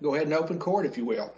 Go ahead and open court, if you will.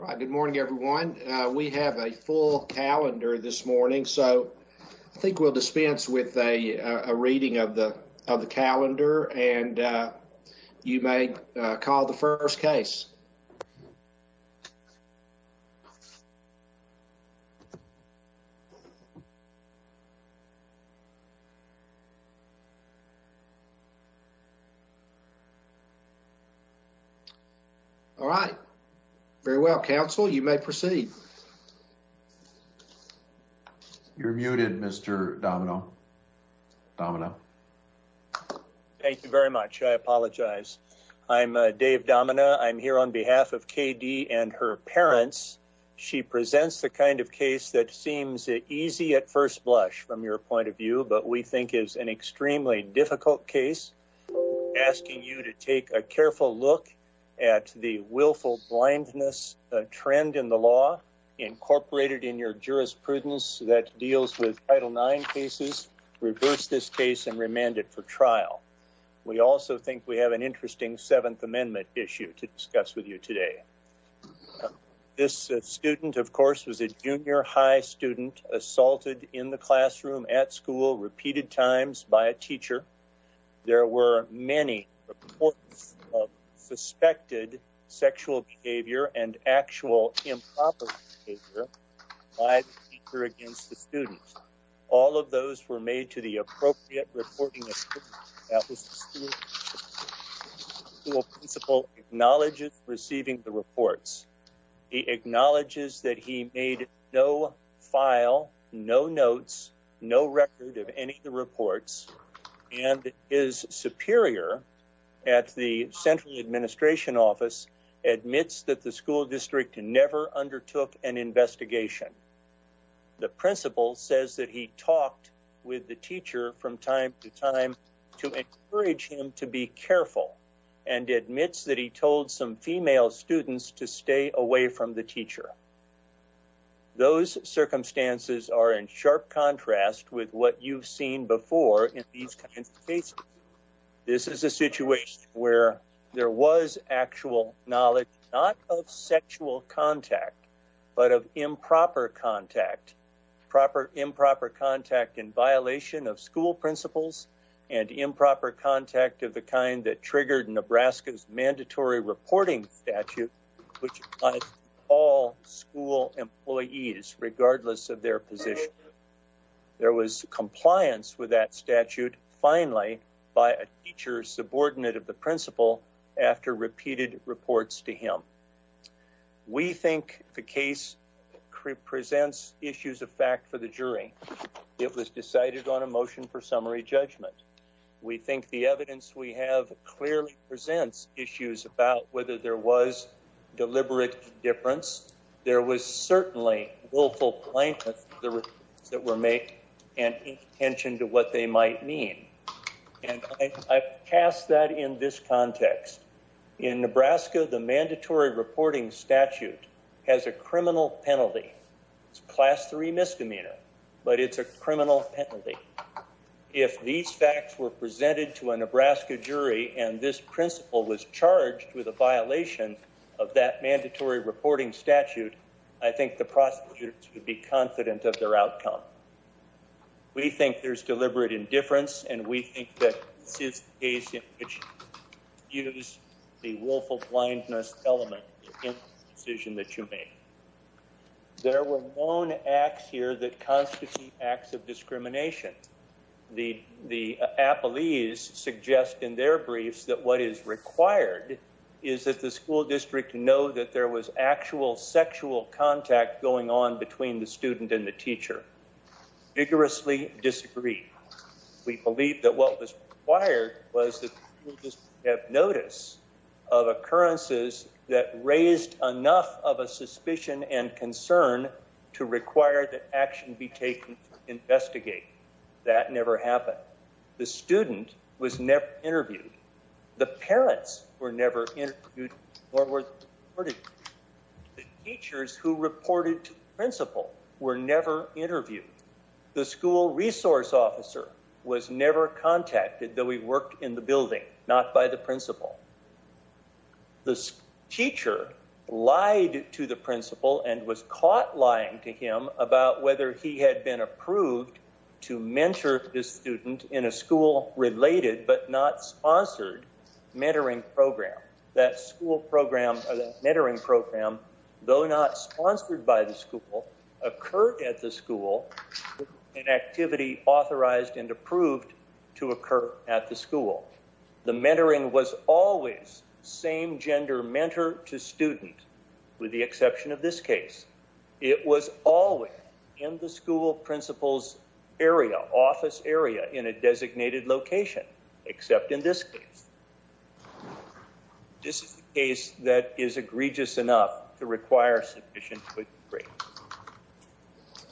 All right. Good morning, everyone. We have a full calendar this morning. So I think we'll dispense with a reading of the calendar and you may call the first case. All right. Very well, counsel. You may proceed. You're muted, Mr. Domino. Thank you very much. I apologize. I'm Dave Domino. I'm here on behalf of KD and her parents. She presents the kind of case that seems easy at first blush from your point of view, but we think is an extremely difficult case asking you to take a careful look at the willful blindness trend in the law incorporated in your jurisprudence that deals with Title IX cases, reverse this case and remand it for trial. We also think we have an interesting Seventh Amendment issue to discuss with you today. This student, of course, was a junior high student assaulted in the classroom at school repeated times by a teacher. There were many suspected sexual behavior and actual improper behavior by the teacher against the student. All of those were made to the appropriate reporting school principal acknowledges receiving the reports. He acknowledges that he made no file, no notes, no record of any of the reports and his superior at the central administration office admits that the school district never undertook an investigation. The principal says that he talked with the teacher from time to time to encourage him to be careful and admits that he told some female students to stay away from the teacher. Those circumstances are in sharp contrast with what you've seen before in these kinds of cases. This is a situation where there was actual knowledge, not of sexual contact, but of improper contact. Proper improper contact in violation of school principals and improper contact of the kind that triggered Nebraska's mandatory reporting statute, which all school employees, regardless of their position. There was compliance with that statute finally by a teacher subordinate of the principal after repeated reports to him. We think the case presents issues of fact for the jury. It was decided on a motion for summary judgment. We think the evidence we have clearly presents issues about whether there was deliberate difference. There was certainly willful plaintiff that were make an intention to what they might mean. And I cast that in this context in Nebraska. The mandatory reporting statute has a criminal penalty. It's class three misdemeanor, but it's a criminal penalty. If these facts were presented to a Nebraska jury, and this principal was charged with a violation of that mandatory reporting statute, I think the prosecutors would be confident of their outcome. We think there's deliberate indifference, and we think that this is the case in which you use the willful blindness element in the decision that you made. There were known acts here that constitute acts of discrimination. The appellees suggest in their briefs that what is required is that the school district know that there was actual sexual contact going on between the student and the teacher. Vigorously disagree. We believe that what was required was that the school district have notice of occurrences that raised enough of a suspicion and concern to require that action be taken to investigate. That never happened. The student was never interviewed. The parents were never interviewed. The teachers who reported to the principal were never interviewed. The school resource officer was never contacted, though he worked in the building, not by the principal. The teacher lied to the principal and was caught lying to him about whether he had been approved to mentor the student in a school-related but not sponsored mentoring program. That mentoring program, though not sponsored by the school, occurred at the school with an activity authorized and approved to occur at the school. The mentoring was always same-gender mentor to student, with the exception of this case. It was always in the school principal's office area in a designated location, except in this case. This is a case that is egregious enough to require sufficient quick break.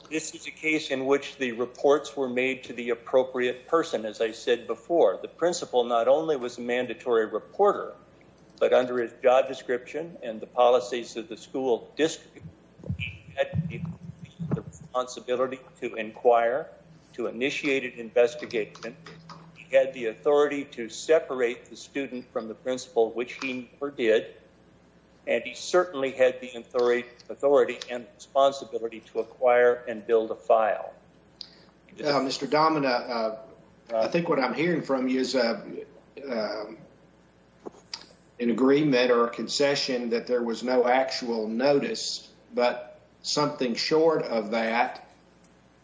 This is a case in which the reports were made to the appropriate person, as I said before. The principal not only was a mandatory reporter, but under his job description and the policies of the school district, he had the responsibility to inquire, to initiate an investigation. He had the authority to separate the student from the principal, which he never did. And he certainly had the authority and responsibility to acquire and build a file. Mr. Domina, I think what I'm hearing from you is an agreement or a concession that there was no actual notice, but something short of that.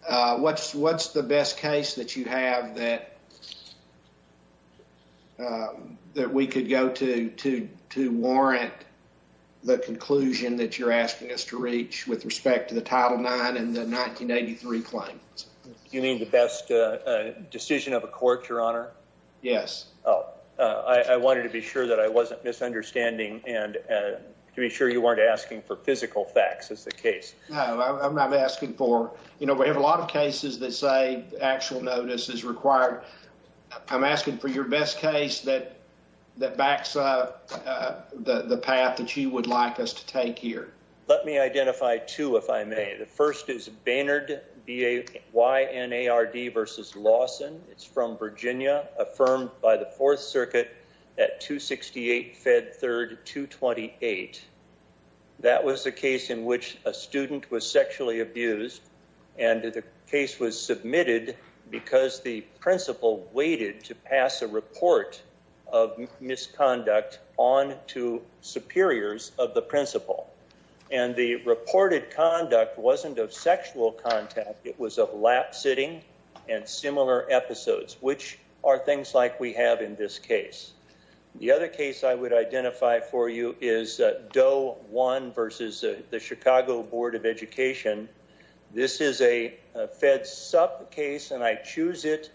What's the best case that you have that we could go to to warrant the conclusion that you're asking us to reach with respect to the Title IX and the 1983 claims? You mean the best decision of a court, Your Honor? Yes. I wanted to be sure that I wasn't misunderstanding and to be sure you weren't asking for physical facts as the case. No, I'm not asking for, you know, we have a lot of cases that say actual notice is required. I'm asking for your best case that backs up the path that you would like us to take here. Let me identify two, if I may. The first is Baynard versus Lawson. It's from Virginia, affirmed by the Fourth Circuit at 268 Fed Third 228. That was a case in which a student was sexually abused and the case was submitted because the principal waited to pass a report of misconduct on to superiors of the principal. And the reported conduct wasn't of sexual contact. It was of lap sitting and similar episodes, which are things like we have in this case. The other case I would identify for you is Doe One versus the Chicago Board of Education. This is a Fed Sup case, and I choose it,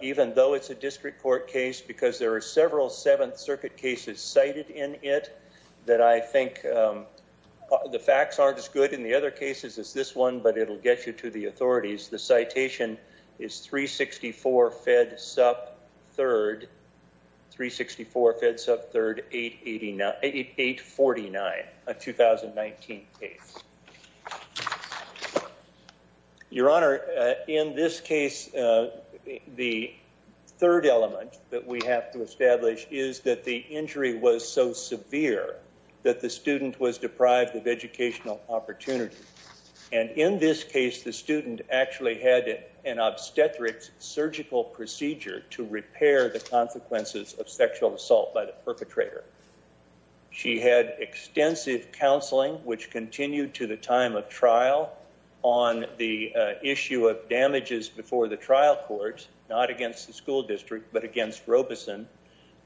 even though it's a district court case, because there are several Seventh Circuit cases cited in it that I think the facts aren't as good in the other cases as this one, but it'll get you to the authorities. The citation is 364 Fed Sup Third, 364 Fed Sup Third, 849, a 2019 case. Your Honor, in this case, the third element that we have to establish is that the injury was so severe that the student was deprived of educational opportunity. And in this case, the student actually had an obstetric surgical procedure to repair the consequences of sexual assault by the perpetrator. She had extensive counseling, which continued to the time of trial on the issue of damages before the trial court, not against the school district, but against Robeson.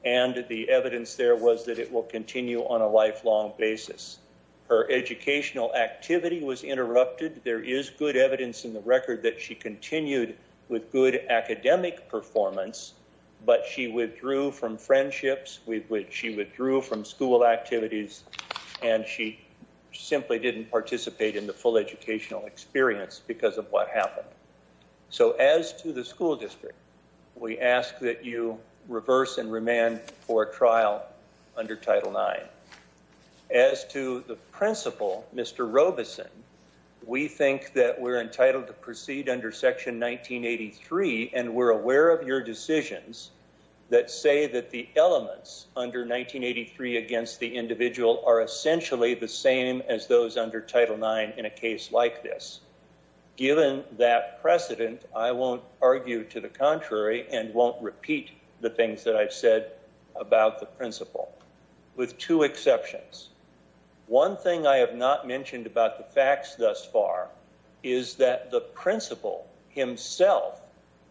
And the evidence there was that it will continue on a lifelong basis. Her educational activity was interrupted. There is good evidence in the record that she continued with good academic performance, but she withdrew from friendships. She withdrew from school activities, and she simply didn't participate in the full educational experience because of what happened. So as to the school district, we ask that you reverse and remand for a trial under Title IX. As to the principal, Mr. Robeson, we think that we're entitled to proceed under Section 1983, and we're aware of your decisions that say that the elements under 1983 against the individual are essentially the same as those under Title IX in a case like this. Given that precedent, I won't argue to the contrary and won't repeat the things that I've said about the principal. With two exceptions. One thing I have not mentioned about the facts thus far is that the principal himself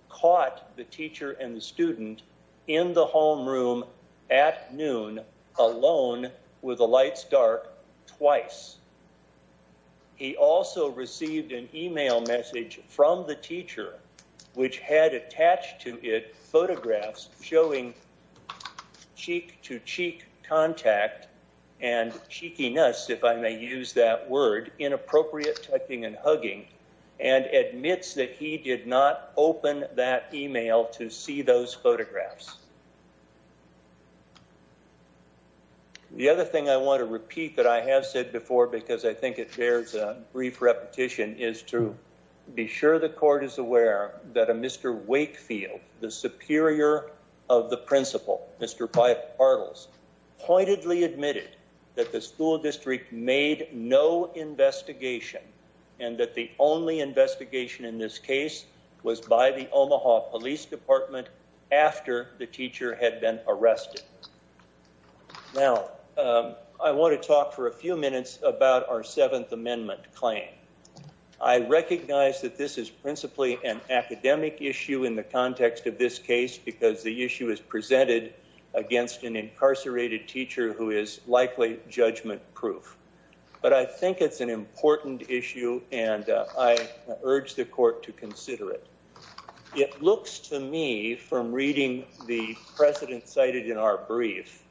caught the teacher and the student in the homeroom at noon alone with the lights dark twice. He also received an email message from the teacher, which had attached to it photographs showing cheek-to-cheek contact and cheekiness, if I may use that word, inappropriate tucking and hugging, and admits that he did not open that email to see those photographs. The other thing I want to repeat that I have said before, because I think it bears a brief repetition, is to be sure the court is aware that a Mr. Wakefield, the superior of the principal, Mr. Pardels, pointedly admitted that the school district made no investigation and that the only investigation in this case was by the Omaha Police Department after this trial. The teacher had been arrested. Now, I want to talk for a few minutes about our Seventh Amendment claim. I recognize that this is principally an academic issue in the context of this case because the issue is presented against an incarcerated teacher who is likely judgment-proof. But I think it's an important issue and I urge the court to consider it. It looks to me, from reading the precedent cited in our brief,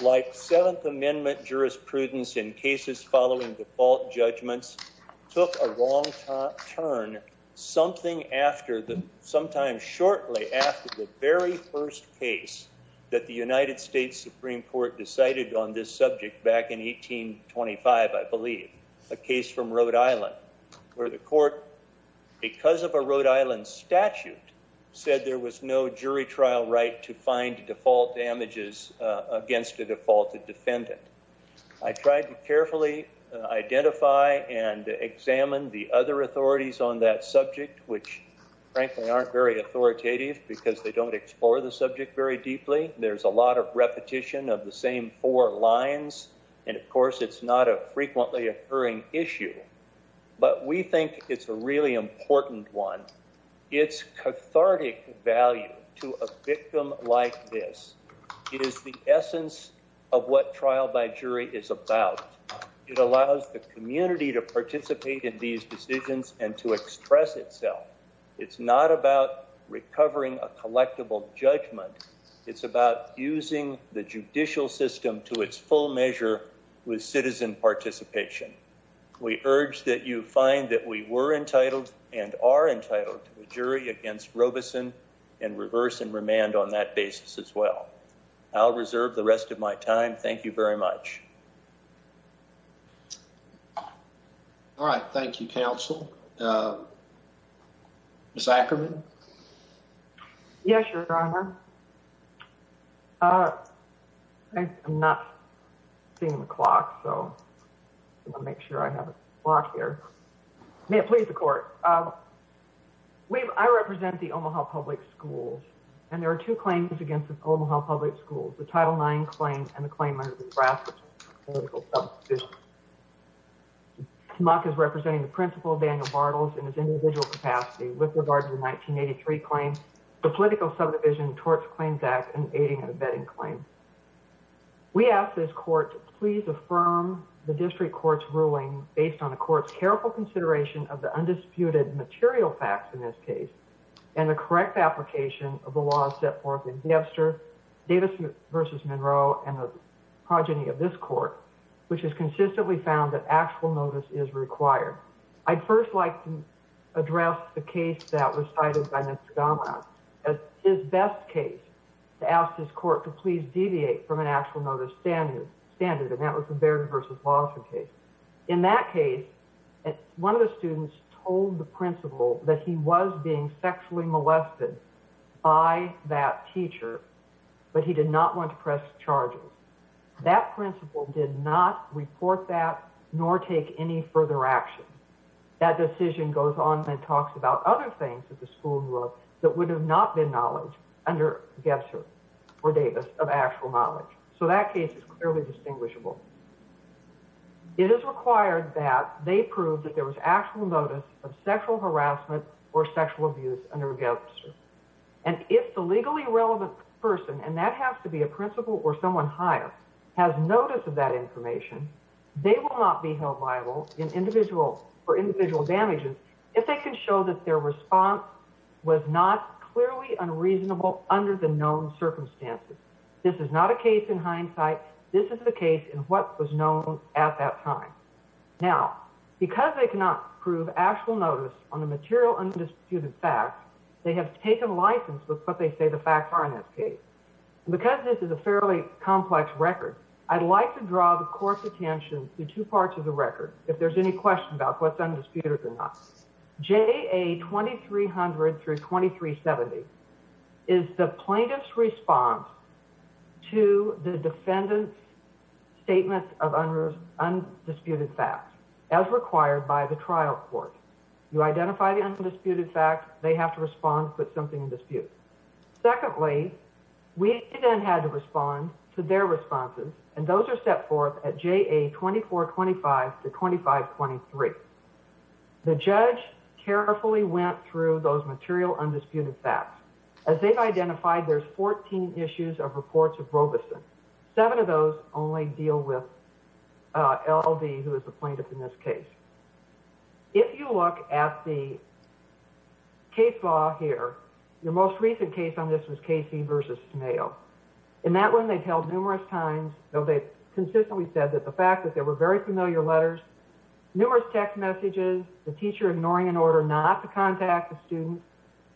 like Seventh Amendment jurisprudence in cases following default judgments took a wrong turn something after, sometimes shortly after, the very first case that the United States Supreme Court decided on this subject back in 1825, I believe, a case from Rhode Island, where the court, because of a Rhode Island statute, said there was no jury trial right to find default damages against a defaulted defendant. I tried to carefully identify and examine the other authorities on that subject, which frankly aren't very authoritative because they don't explore the subject very deeply. There's a lot of repetition of the same four lines, and of course it's not a frequently occurring issue, but we think it's a really important one. It's cathartic value to a victim like this. It is the essence of what trial by jury is about. It allows the community to participate in these decisions and to express itself. It's not about recovering a collectible judgment. It's about using the judicial system to its full measure with citizen participation. We urge that you find that we were entitled and are entitled to a jury against Robeson and reverse and remand on that basis as well. I'll reserve the rest of my time. Thank you very much. All right. Thank you, counsel. Ms. Ackerman? Yes, Your Honor. I'm not seeing the clock, so I want to make sure I have a clock here. May it please the Court. I represent the Omaha Public Schools, and there are two claims against the Omaha Public Schools. The Title IX claim and the claim under the Brassica Political Subdivision. TMACC is representing the principal, Daniel Bartles, in his individual capacity with regard to the 1983 claim, the Political Subdivision Tort Claims Act, and aiding and abetting claim. We ask this Court to please affirm the District Court's ruling based on the Court's careful consideration of the undisputed material facts in this case and the correct application of the laws set forth in Debster, Davis v. Monroe, and the progeny of this Court, which has consistently found that actual notice is required. I'd first like to address the case that was cited by Mr. Donlon as his best case to ask this Court to please deviate from an actual notice standard, and that was the Baird v. Lawson case. In that case, one of the students told the principal that he was being sexually molested by that teacher, but he did not want to press charges. That principal did not report that nor take any further action. That decision goes on and talks about other things at the school that would have not been knowledge under Debster v. Davis of actual knowledge. So that case is clearly distinguishable. It is required that they prove that there was actual notice of sexual harassment or sexual abuse under Debster, and if the legally relevant person, and that has to be a principal or someone higher, has notice of that information, they will not be held liable for individual damages if they can show that their response was not clearly unreasonable under the known circumstances. This is not a case in hindsight. This is a case in what was known at that time. Now, because they cannot prove actual notice on the material undisputed facts, they have taken license with what they say the facts are in this case. Because this is a fairly complex record, I'd like to draw the Court's attention to two parts of the record, if there's any question about what's undisputed or not. JA 2300-2370 is the plaintiff's response to the defendant's statement of undisputed facts, as required by the trial court. You identify the undisputed facts, they have to respond to put something in dispute. Secondly, we then had to respond to their responses, and those are set forth at JA 2425-2523. The judge carefully went through those material undisputed facts. As they've identified, there's 14 issues of reports of Robeson. Seven of those only deal with L.D., who is the plaintiff in this case. If you look at the case law here, the most recent case on this was Casey v. Smayo. In that one, they've held numerous times, though they've consistently said that the fact that there were very familiar letters, numerous text messages, the teacher ignoring an order not to contact the student,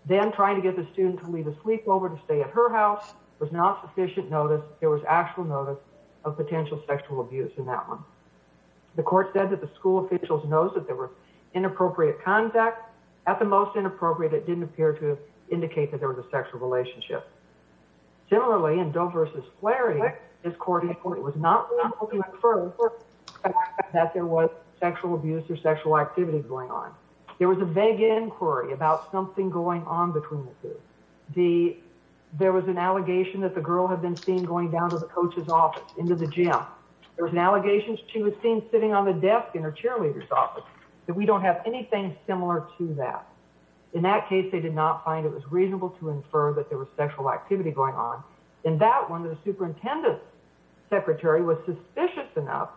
then trying to get the student to leave a sleepover to stay at her house, was not sufficient notice. There was actual notice of potential sexual abuse in that one. The Court said that the school officials know that there were inappropriate contacts. At the most inappropriate, it didn't appear to indicate that there was a sexual relationship. Similarly, in Doe v. Flaherty, this Court reported that it was not reasonable to infer that there was sexual abuse or sexual activity going on. There was a vague inquiry about something going on between the two. There was an allegation that the girl had been seen going down to the coach's office, into the gym. There was an allegation that she was seen sitting on the desk in her cheerleader's office. We don't have anything similar to that. In that case, they did not find it was reasonable to infer that there was sexual activity going on. In that one, the superintendent's secretary was suspicious enough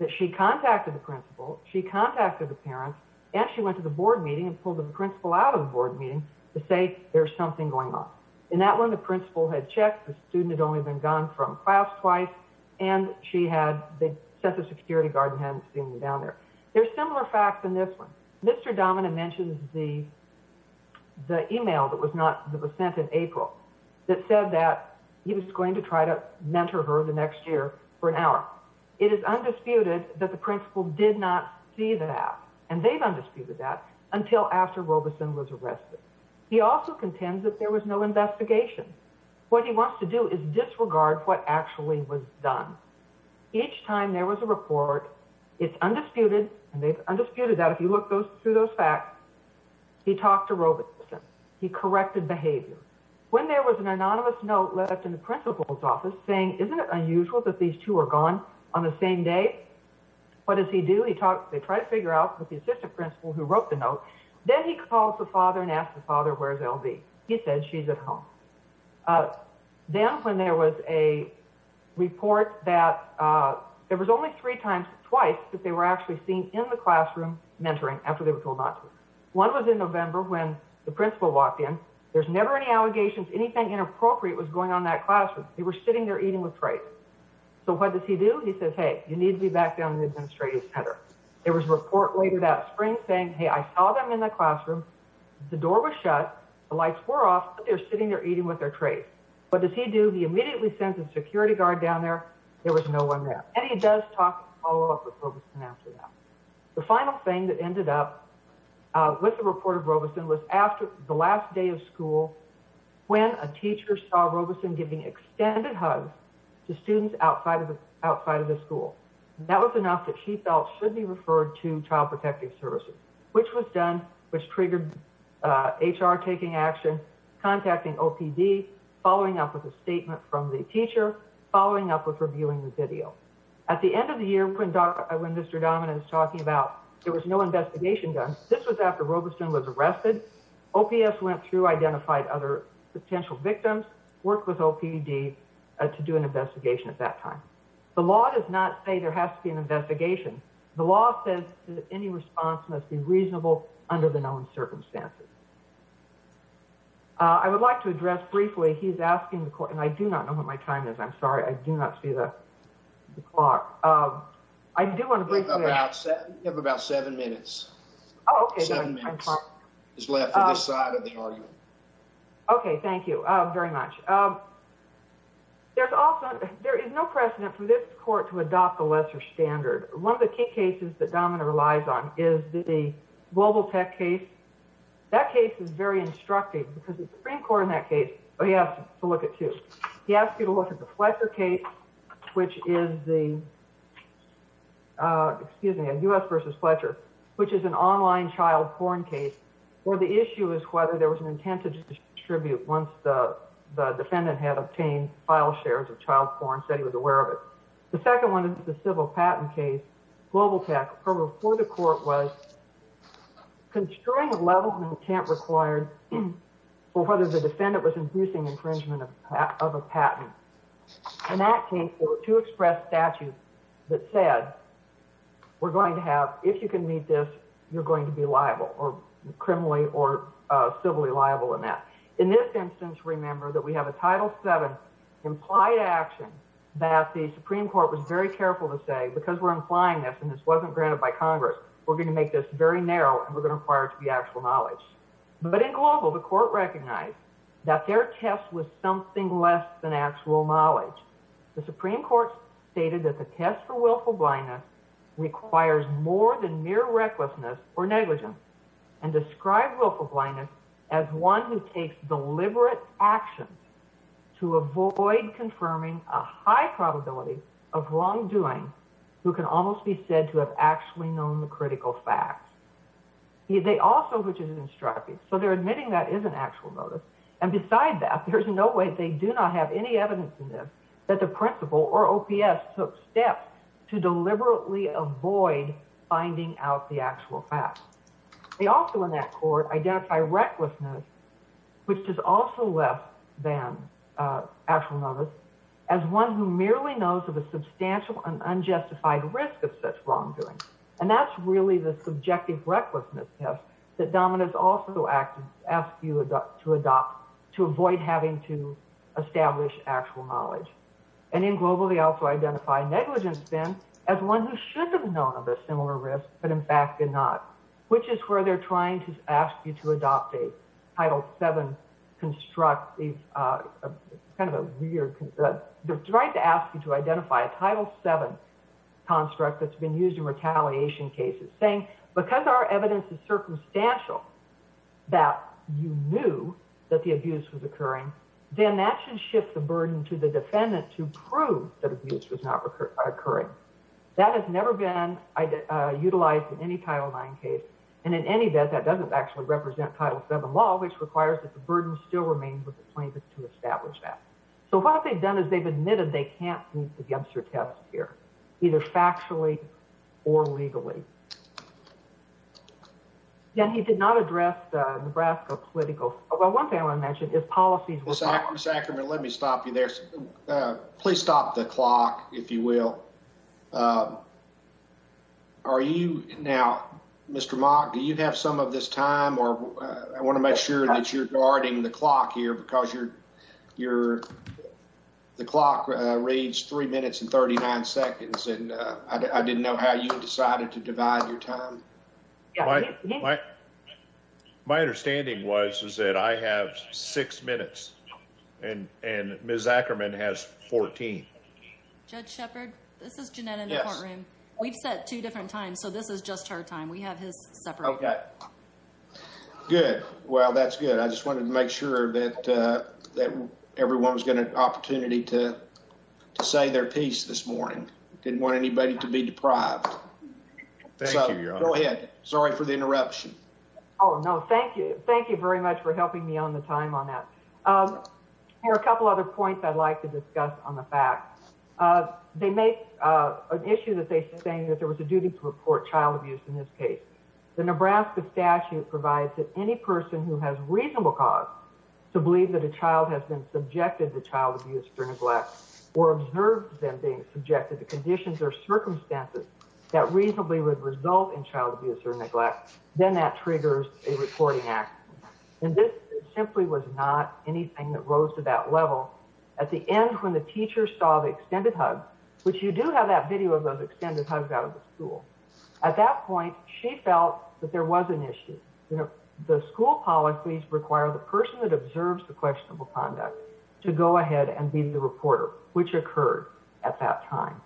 that she contacted the principal, she contacted the parents, and she went to the board meeting and pulled the principal out of the board meeting to say, there's something going on. In that one, the principal had checked, the student had only been gone from class twice, and she had, the Census Security guard hadn't seen her down there. There's similar facts in this one. Mr. Domina mentions the email that was sent in April that said that he was going to try to mentor her the next year for an hour. It is undisputed that the principal did not see that, and they've undisputed that, until after Robeson was arrested. He also contends that there was no investigation. What he wants to do is disregard what actually was done. Each time there was a report, it's undisputed, and they've undisputed that, if you look through those facts, he talked to Robeson. He corrected behavior. When there was an anonymous note left in the principal's office saying, isn't it unusual that these two are gone on the same day? What does he do? They try to figure out with the assistant principal who wrote the note. Then he calls the father and asks the father, where's L.B.? He says, she's at home. Then when there was a report that there was only three times, twice, that they were actually seen in the classroom mentoring after they were told not to. One was in November when the principal walked in. There's never any allegations. Anything inappropriate was going on in that classroom. They were sitting there eating with praise. So what does he do? He says, hey, you need to be back down in the administrative center. There was a report later that spring saying, hey, I saw them in the classroom. The door was shut. The lights were off, but they were sitting there eating with their praise. What does he do? He immediately sends a security guard down there. There was no one there. And he does talk and follow up with Robeson after that. The final thing that ended up with the report of Robeson was after the last day of school, when a teacher saw Robeson giving extended hugs to students outside of the school. That was enough that she felt should be referred to Child Protective Services, which was done, which triggered Robeson. They triggered HR taking action, contacting OPD, following up with a statement from the teacher, following up with reviewing the video. At the end of the year, when Mr. Dominant was talking about there was no investigation done, this was after Robeson was arrested. OPS went through, identified other potential victims, worked with OPD to do an investigation at that time. The law does not say there has to be an investigation. The law says that any response must be reasonable under the known circumstances. I would like to address briefly, he's asking the court, and I do not know what my time is. I'm sorry, I do not see the clock. I do want to briefly ask. You have about seven minutes. Oh, okay. Seven minutes is left for this side of the argument. Okay, thank you very much. There is no precedent for this court to adopt the lesser standard. One of the key cases that Dominant relies on is the Global Tech case. That case is very instructive because the Supreme Court in that case, he asked to look at two. He asked you to look at the Fletcher case, which is the, excuse me, a U.S. versus Fletcher, which is an online child porn case, where the issue is whether there was an intent to distribute once the defendant had obtained file shares of child porn, said he was aware of it. The second one is the civil patent case, Global Tech. Her report to court was constrained levels of intent required for whether the defendant was inducing infringement of a patent. In that case, there were two express statutes that said, we're going to have, if you can meet this, you're going to be liable, or criminally or civilly liable in that. In this instance, remember that we have a Title VII implied action that the Supreme Court was very careful to say, because we're implying this and this wasn't granted by Congress, we're going to make this very narrow and we're going to require it to be actual knowledge. But in Global, the court recognized that their test was something less than actual knowledge. The Supreme Court stated that the test for willful blindness requires more than mere recklessness or negligence and described willful blindness as one who takes deliberate actions to avoid confirming a high probability of wrongdoing, who can almost be said to have actually known the critical facts. They also, which is in Strapi, so they're admitting that is an actual notice. And besides that, there's no way, they do not have any evidence in this that the principal or OPS took steps to deliberately avoid finding out the actual facts. They also, in that court, identify recklessness, which is also less than actual knowledge, as one who merely knows of a substantial and unjustified risk of such wrongdoing. And that's really the subjective recklessness test that Dominus also asked you to adopt to avoid having to establish actual knowledge. And in Global, they also identify negligence then as one who should have known of a similar risk, but in fact did not, and that's why they're trying to ask you to adopt a Title VII construct. It's kind of a weird, they're trying to ask you to identify a Title VII construct that's been used in retaliation cases, saying because our evidence is circumstantial that you knew that the abuse was occurring, then that should shift the burden to the defendant to prove that abuse was not occurring. That has never been utilized in any Title IX case, and in any event, that doesn't actually represent Title VII law, which requires that the burden still remain with the plaintiff to establish that. So what they've done is they've admitted they can't meet the Dempster test here, either factually or legally. And he did not address the Nebraska political, well, one thing I want to mention is policies. Mr. Ackerman, let me stop you there. Please stop the clock, if you will. Are you now, Mr. Mock, do you have some of this time, or I want to make sure that you're guarding the clock here, because the clock reads three minutes and 39 seconds, and I didn't know how you decided to divide your time. My understanding was that I have six minutes, and Ms. Ackerman has 14. Judge Shepard, this is Jeanette in the courtroom. We've set two different times, so this is just her time. We have his separate time. Good. Well, that's good. I just wanted to make sure that everyone was given an opportunity to say their piece this morning. Didn't want anybody to be deprived. Thank you, Your Honor. Go ahead. Sorry for the interruption. Oh, no, thank you. Thank you very much for helping me on the time on that. There are a couple other points I'd like to discuss on the facts. They make an issue that they sustain that there was a duty to report child abuse in this case. The Nebraska statute provides that any person who has reasonable cause to believe that a child has been subjected to child abuse or neglect or observed them being subjected to conditions or circumstances that reasonably would result in child abuse or neglect, then that triggers a reporting action. And this simply was not anything that rose to that level. At the end, when the teacher saw the extended hug, which you do have that video of those extended hugs out of the school, at that point, she felt that there was an issue. The school policies require the person that observes the questionable conduct to go ahead and be the reporter, which occurred at that time.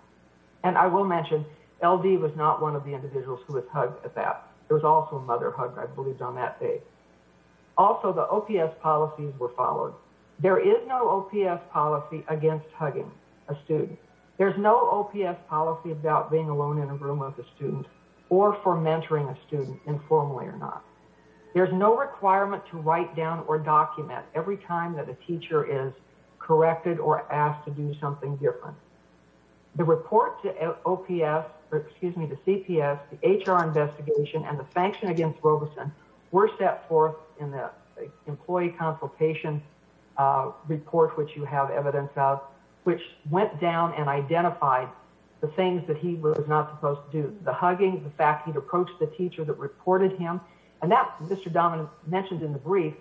And I will mention, LD was not one of the individuals who was hugged at that. There was also a mother hug, I believe, on that day. Also, the OPS policies were followed. There is no OPS policy against hugging a student. There's no OPS policy about being alone in a room with a student or for mentoring a student, informally or not. There's no requirement to write down or document every time that a teacher is corrected or asked to do something different. The report to OPS, or excuse me, to CPS, the HR investigation, and the sanction against Robeson were set forth in the employee consultation report, which you have evidence of, which went down and identified the things that he was not supposed to do. The hugging, the fact he'd approached the teacher that reported him. And that, Mr. Dominick mentioned in the brief,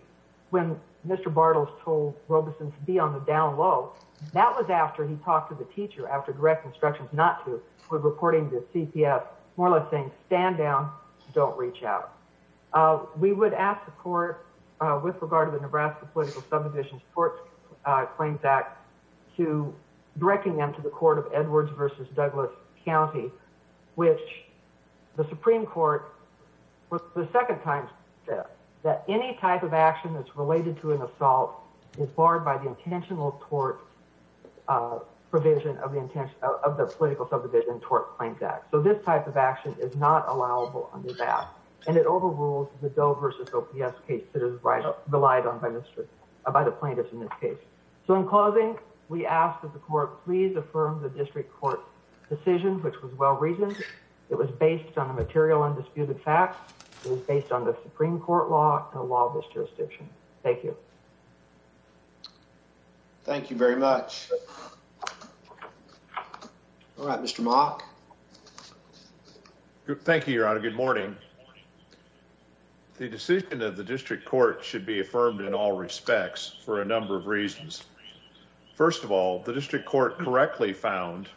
when Mr. Bartles told Robeson to be on the down low, that was after he talked to the teacher, after direct instructions not to, with reporting to CPS, more or less saying, stand down, don't reach out. We would ask the court, with regard to the Nebraska Political Subdivision Tort Claims Act, to directing them to the court of Edwards v. Douglas County, which the Supreme Court, for the second time, said that any type of action that's related to an assault is barred by the intentional tort provision of the Political Subdivision Tort Claims Act. So this type of action is not allowable under that. And it overrules the Doe v. OPS case that is relied on by the plaintiffs in this case. So in closing, we ask that the court please affirm the district court's decision, which was well reasoned. It was based on the material undisputed facts. It was based on the Supreme Court law and the law of this jurisdiction. Thank you. Thank you very much. All right, Mr. Mock. Thank you, Your Honor. Good morning. The decision of the district court should be affirmed in all respects for a number of reasons. First of all, the district court correctly found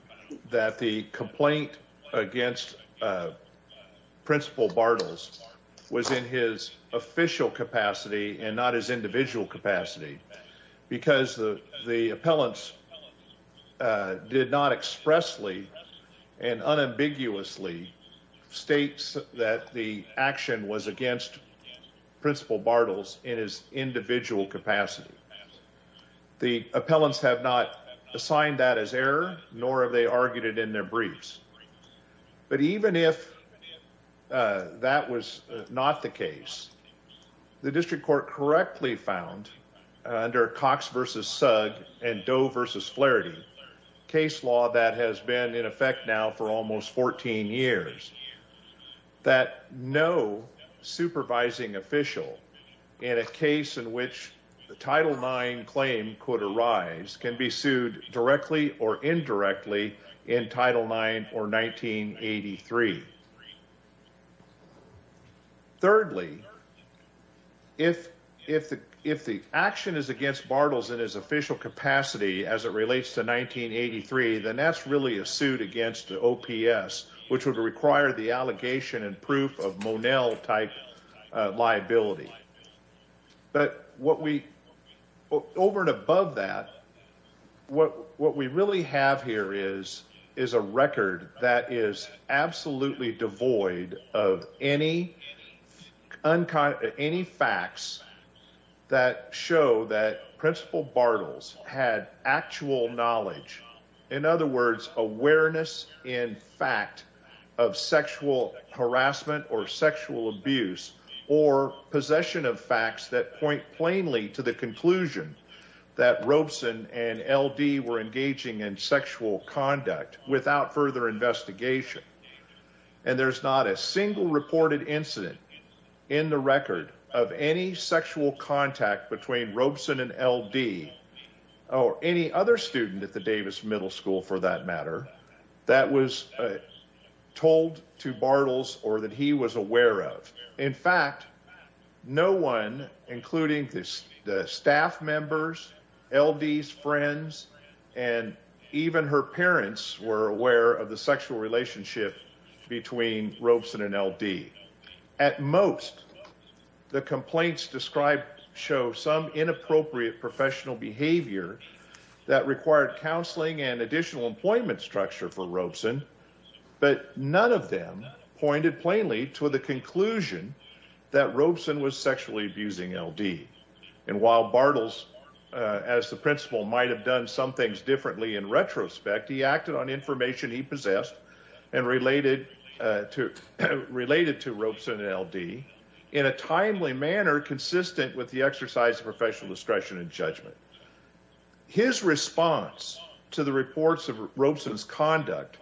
that the complaint against Principal Bartles was in his official capacity and not his individual capacity because the appellants did not expressly and unambiguously state that the action was against Principal Bartles in his individual capacity. The appellants have not assigned that as error, nor have they argued it in their briefs. But even if that was not the case, the district court correctly found under Cox v. Sugg and Doe v. Flaherty, a case law that has been in effect now for almost 14 years, that no supervising official in a case in which the Title IX claim could arise can be sued directly or indirectly in Title IX or 1983. Thirdly, if the action is against Bartles in his official capacity as it relates to 1983, then that's really a suit against OPS, which would require the allegation and proof of Monell-type liability. But over and above that, what we really have here is a record that is absolutely devoid of any facts that show that Principal Bartles had actual knowledge, in other words, awareness in fact of sexual harassment or sexual abuse or possession of facts that point plainly to the conclusion that Robeson and L.D. were engaging in sexual conduct without further investigation. And there's not a single reported incident in the record of any sexual contact between Robeson and L.D. or any other student at the Davis Middle School, for that matter, that was told to Bartles or that he was aware of. In fact, no one, including the staff members, L.D.'s friends, and even her parents were aware of the sexual relationship between Robeson and L.D. At most, the complaints described show some inappropriate professional behavior that required counseling and additional employment structure for Robeson, but none of them pointed plainly to the conclusion that Robeson was sexually abusing L.D. And while Bartles, as the principal, might have done some things differently in retrospect, he acted on information he possessed and related to Robeson and L.D. in a timely manner consistent with the exercise of professional discretion and judgment. His response to the reports of Robeson's conduct,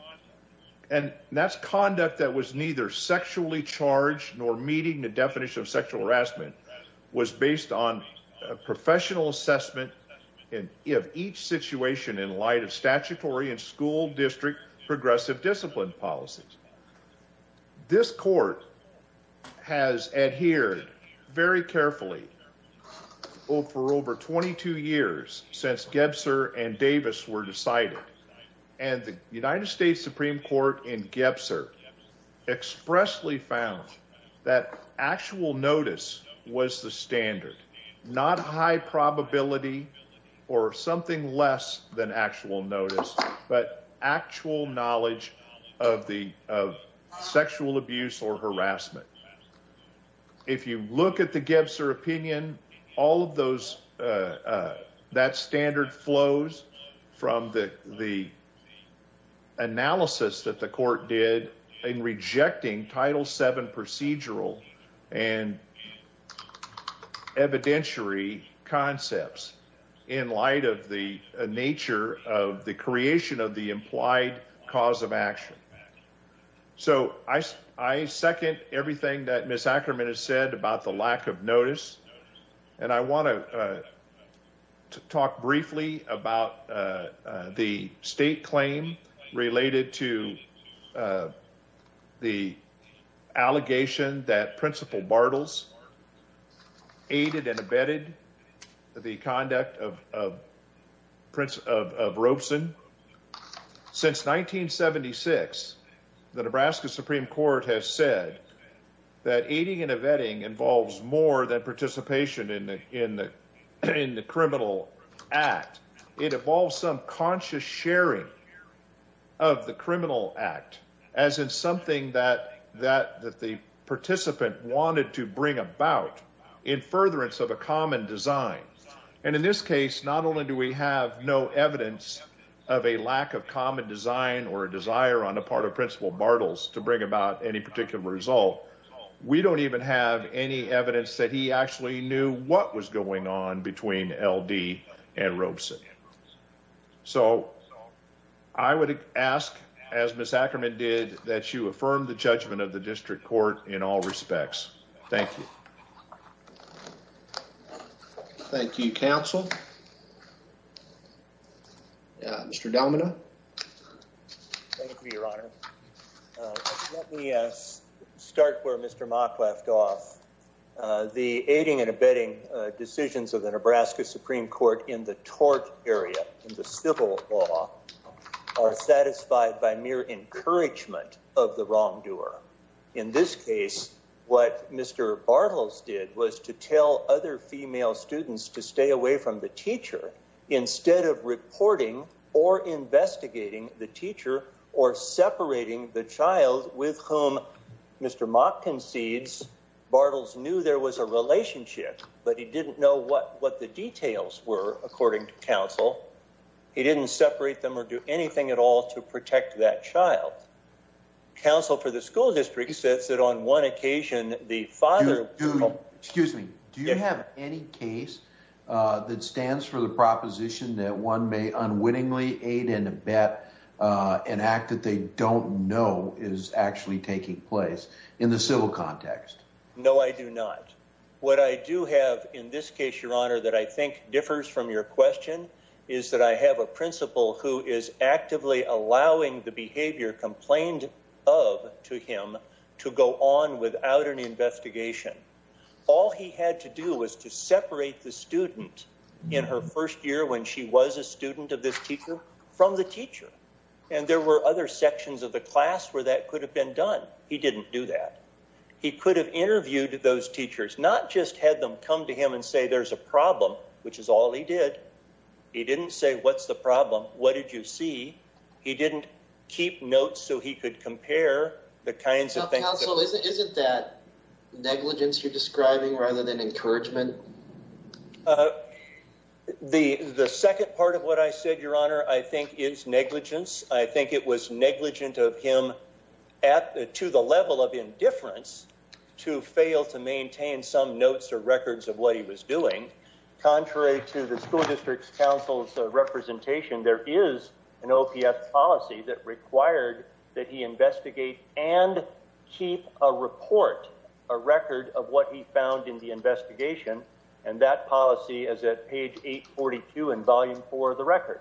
and that's conduct that was neither sexually charged nor meeting the definition of sexual harassment, was based on a professional assessment of each situation in light of statutory and school district progressive discipline policies. This court has adhered very carefully for over 22 years since Gebser and Davis were decided, and the United States Supreme Court in Gebser expressly found that actual notice was the standard, not high probability or something less than actual notice, but actual knowledge of sexual abuse or harassment. If you look at the Gebser opinion, all of that standard flows from the analysis that the court did in rejecting Title VII procedural and evidentiary concepts in light of the nature of the creation of the implied cause of action. So I second everything that Ms. Ackerman has said about the lack of notice, and I want to talk briefly about the state claim related to the allegation that Principal Bartles aided and abetted the conduct of Robeson. Since 1976, the Nebraska Supreme Court has said that aiding and abetting involves more than participation in the criminal act. It involves some conscious sharing of the criminal act, as in something that the participant wanted to bring about in furtherance of a common design. And in this case, not only do we have no evidence of a lack of common design or a desire on the part of Principal Bartles to bring about any particular result, we don't even have any evidence that he actually knew what was going on between L.D. and Robeson. So I would ask, as Ms. Ackerman did, that you affirm the judgment of the district court in all respects. Thank you. Thank you, counsel. Mr. Delmona. Thank you, Your Honor. Let me start where Mr. Mock left off. The aiding and abetting decisions of the Nebraska Supreme Court in the tort area, in the civil law, are satisfied by mere encouragement of the wrongdoer. In this case, what Mr. Bartles did was to tell other female students to stay away from the teacher instead of reporting or investigating the teacher or separating the child with whom Mr. Mock concedes Bartles knew there was a relationship, but he didn't know what the details were, according to counsel. He didn't separate them or do anything at all to protect that child. Counsel for the school district says that on one occasion, the father... Excuse me. Do you have any case that stands for the proposition that one may unwittingly aid and abet an act that they don't know is actually taking place in the civil context? No, I do not. What I do have in this case, Your Honor, that I think differs from your question is that I have a principal who is actively allowing the behavior complained of to him to go on without an investigation. All he had to do was to separate the student in her first year when she was a student of this teacher from the teacher. And there were other sections of the class where that could have been done. He didn't do that. He could have interviewed those teachers, not just had them come to him and say there's a problem, which is all he did. He didn't say, what's the problem? What did you see? He didn't keep notes so he could compare the kinds of counsel. Isn't that negligence? You're describing rather than encouragement. The second part of what I said, Your Honor, I think is negligence. I think it was negligent of him to the level of indifference to fail to maintain some notes or records of what he was doing. Contrary to the school district's counsel's representation, there is an OPS policy that required that he investigate and keep a report, a record of what he found in the investigation. And that policy is at page 842 in volume four of the record.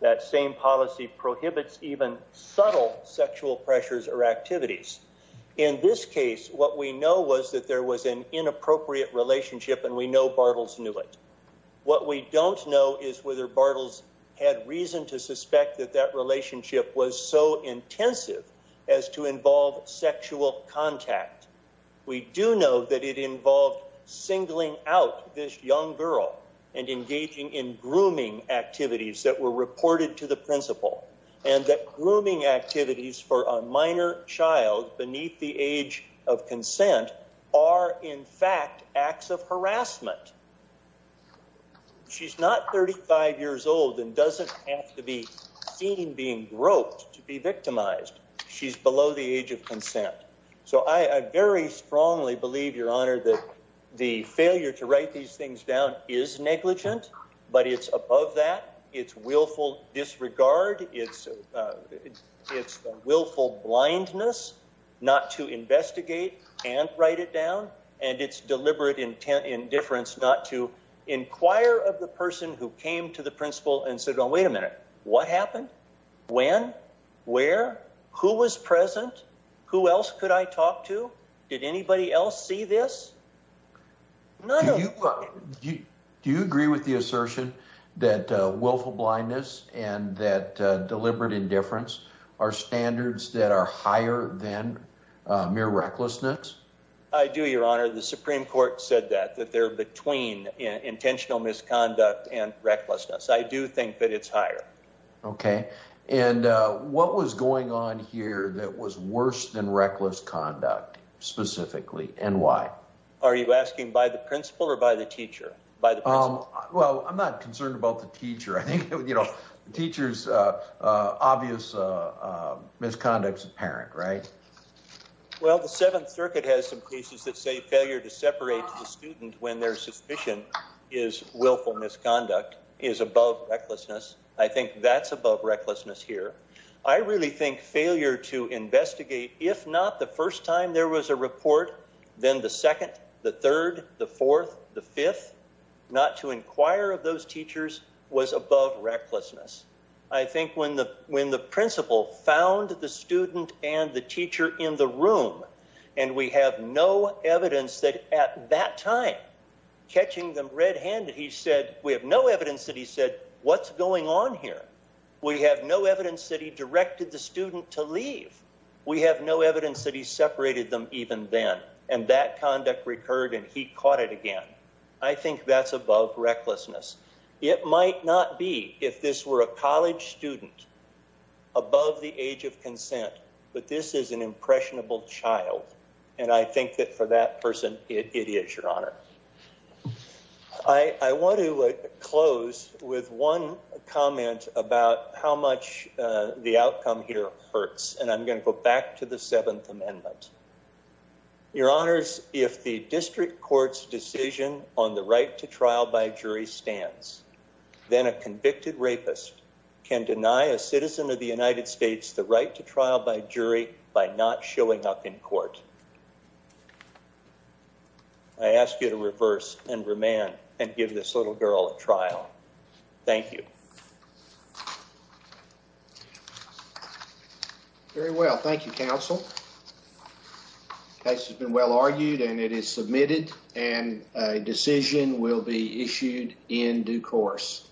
That same policy prohibits even subtle sexual pressures or activities. In this case, what we know was that there was an inappropriate relationship and we know Bartles knew it. What we don't know is whether Bartles had reason to suspect that that relationship was so intensive as to involve sexual contact. We do know that it involved singling out this young girl and engaging in grooming activities that were reported to the principal. And that grooming activities for a minor child beneath the age of consent are, in fact, acts of harassment. She's not 35 years old and doesn't have to be seen being groped to be victimized. So I very strongly believe, Your Honor, that the failure to write these things down is negligent, but it's above that. It's willful disregard. It's willful blindness not to investigate and write it down. And it's deliberate indifference not to inquire of the person who came to the principal and said, Wait a minute. What happened? When? Where? Who was present? Who else could I talk to? Did anybody else see this? Do you agree with the assertion that willful blindness and that deliberate indifference are standards that are higher than mere recklessness? I do, Your Honor. The Supreme Court said that, that they're between intentional misconduct and recklessness. I do think that it's higher. Okay. And what was going on here that was worse than reckless conduct specifically and why? Are you asking by the principal or by the teacher? Well, I'm not concerned about the teacher. I think, you know, the teacher's obvious misconduct is apparent, right? Well, the Seventh Circuit has some cases that say failure to separate the student when their suspicion is willful misconduct is above recklessness. I think that's above recklessness here. I really think failure to investigate, if not the first time there was a report, then the second, the third, the fourth, the fifth, not to inquire of those teachers was above recklessness. I think when the principal found the student and the teacher in the room, and we have no evidence that at that time, catching them red-handed, he said, we have no evidence that he said, what's going on here? We have no evidence that he directed the student to leave. We have no evidence that he separated them even then. And that conduct recurred and he caught it again. I think that's above recklessness. It might not be if this were a college student above the age of consent, but this is an impressionable child. And I think that for that person, it is your honor. I want to close with one comment about how much the outcome here hurts. And I'm going to go back to the Seventh Amendment. Your honors, if the district court's decision on the right to trial by jury stands, then a convicted rapist can deny a citizen of the United States the right to trial by jury by not showing up in court. I ask you to reverse and remand and give this little girl a trial. Thank you. Very well. Thank you, counsel. Case has been well argued and it is submitted and a decision will be issued in due course.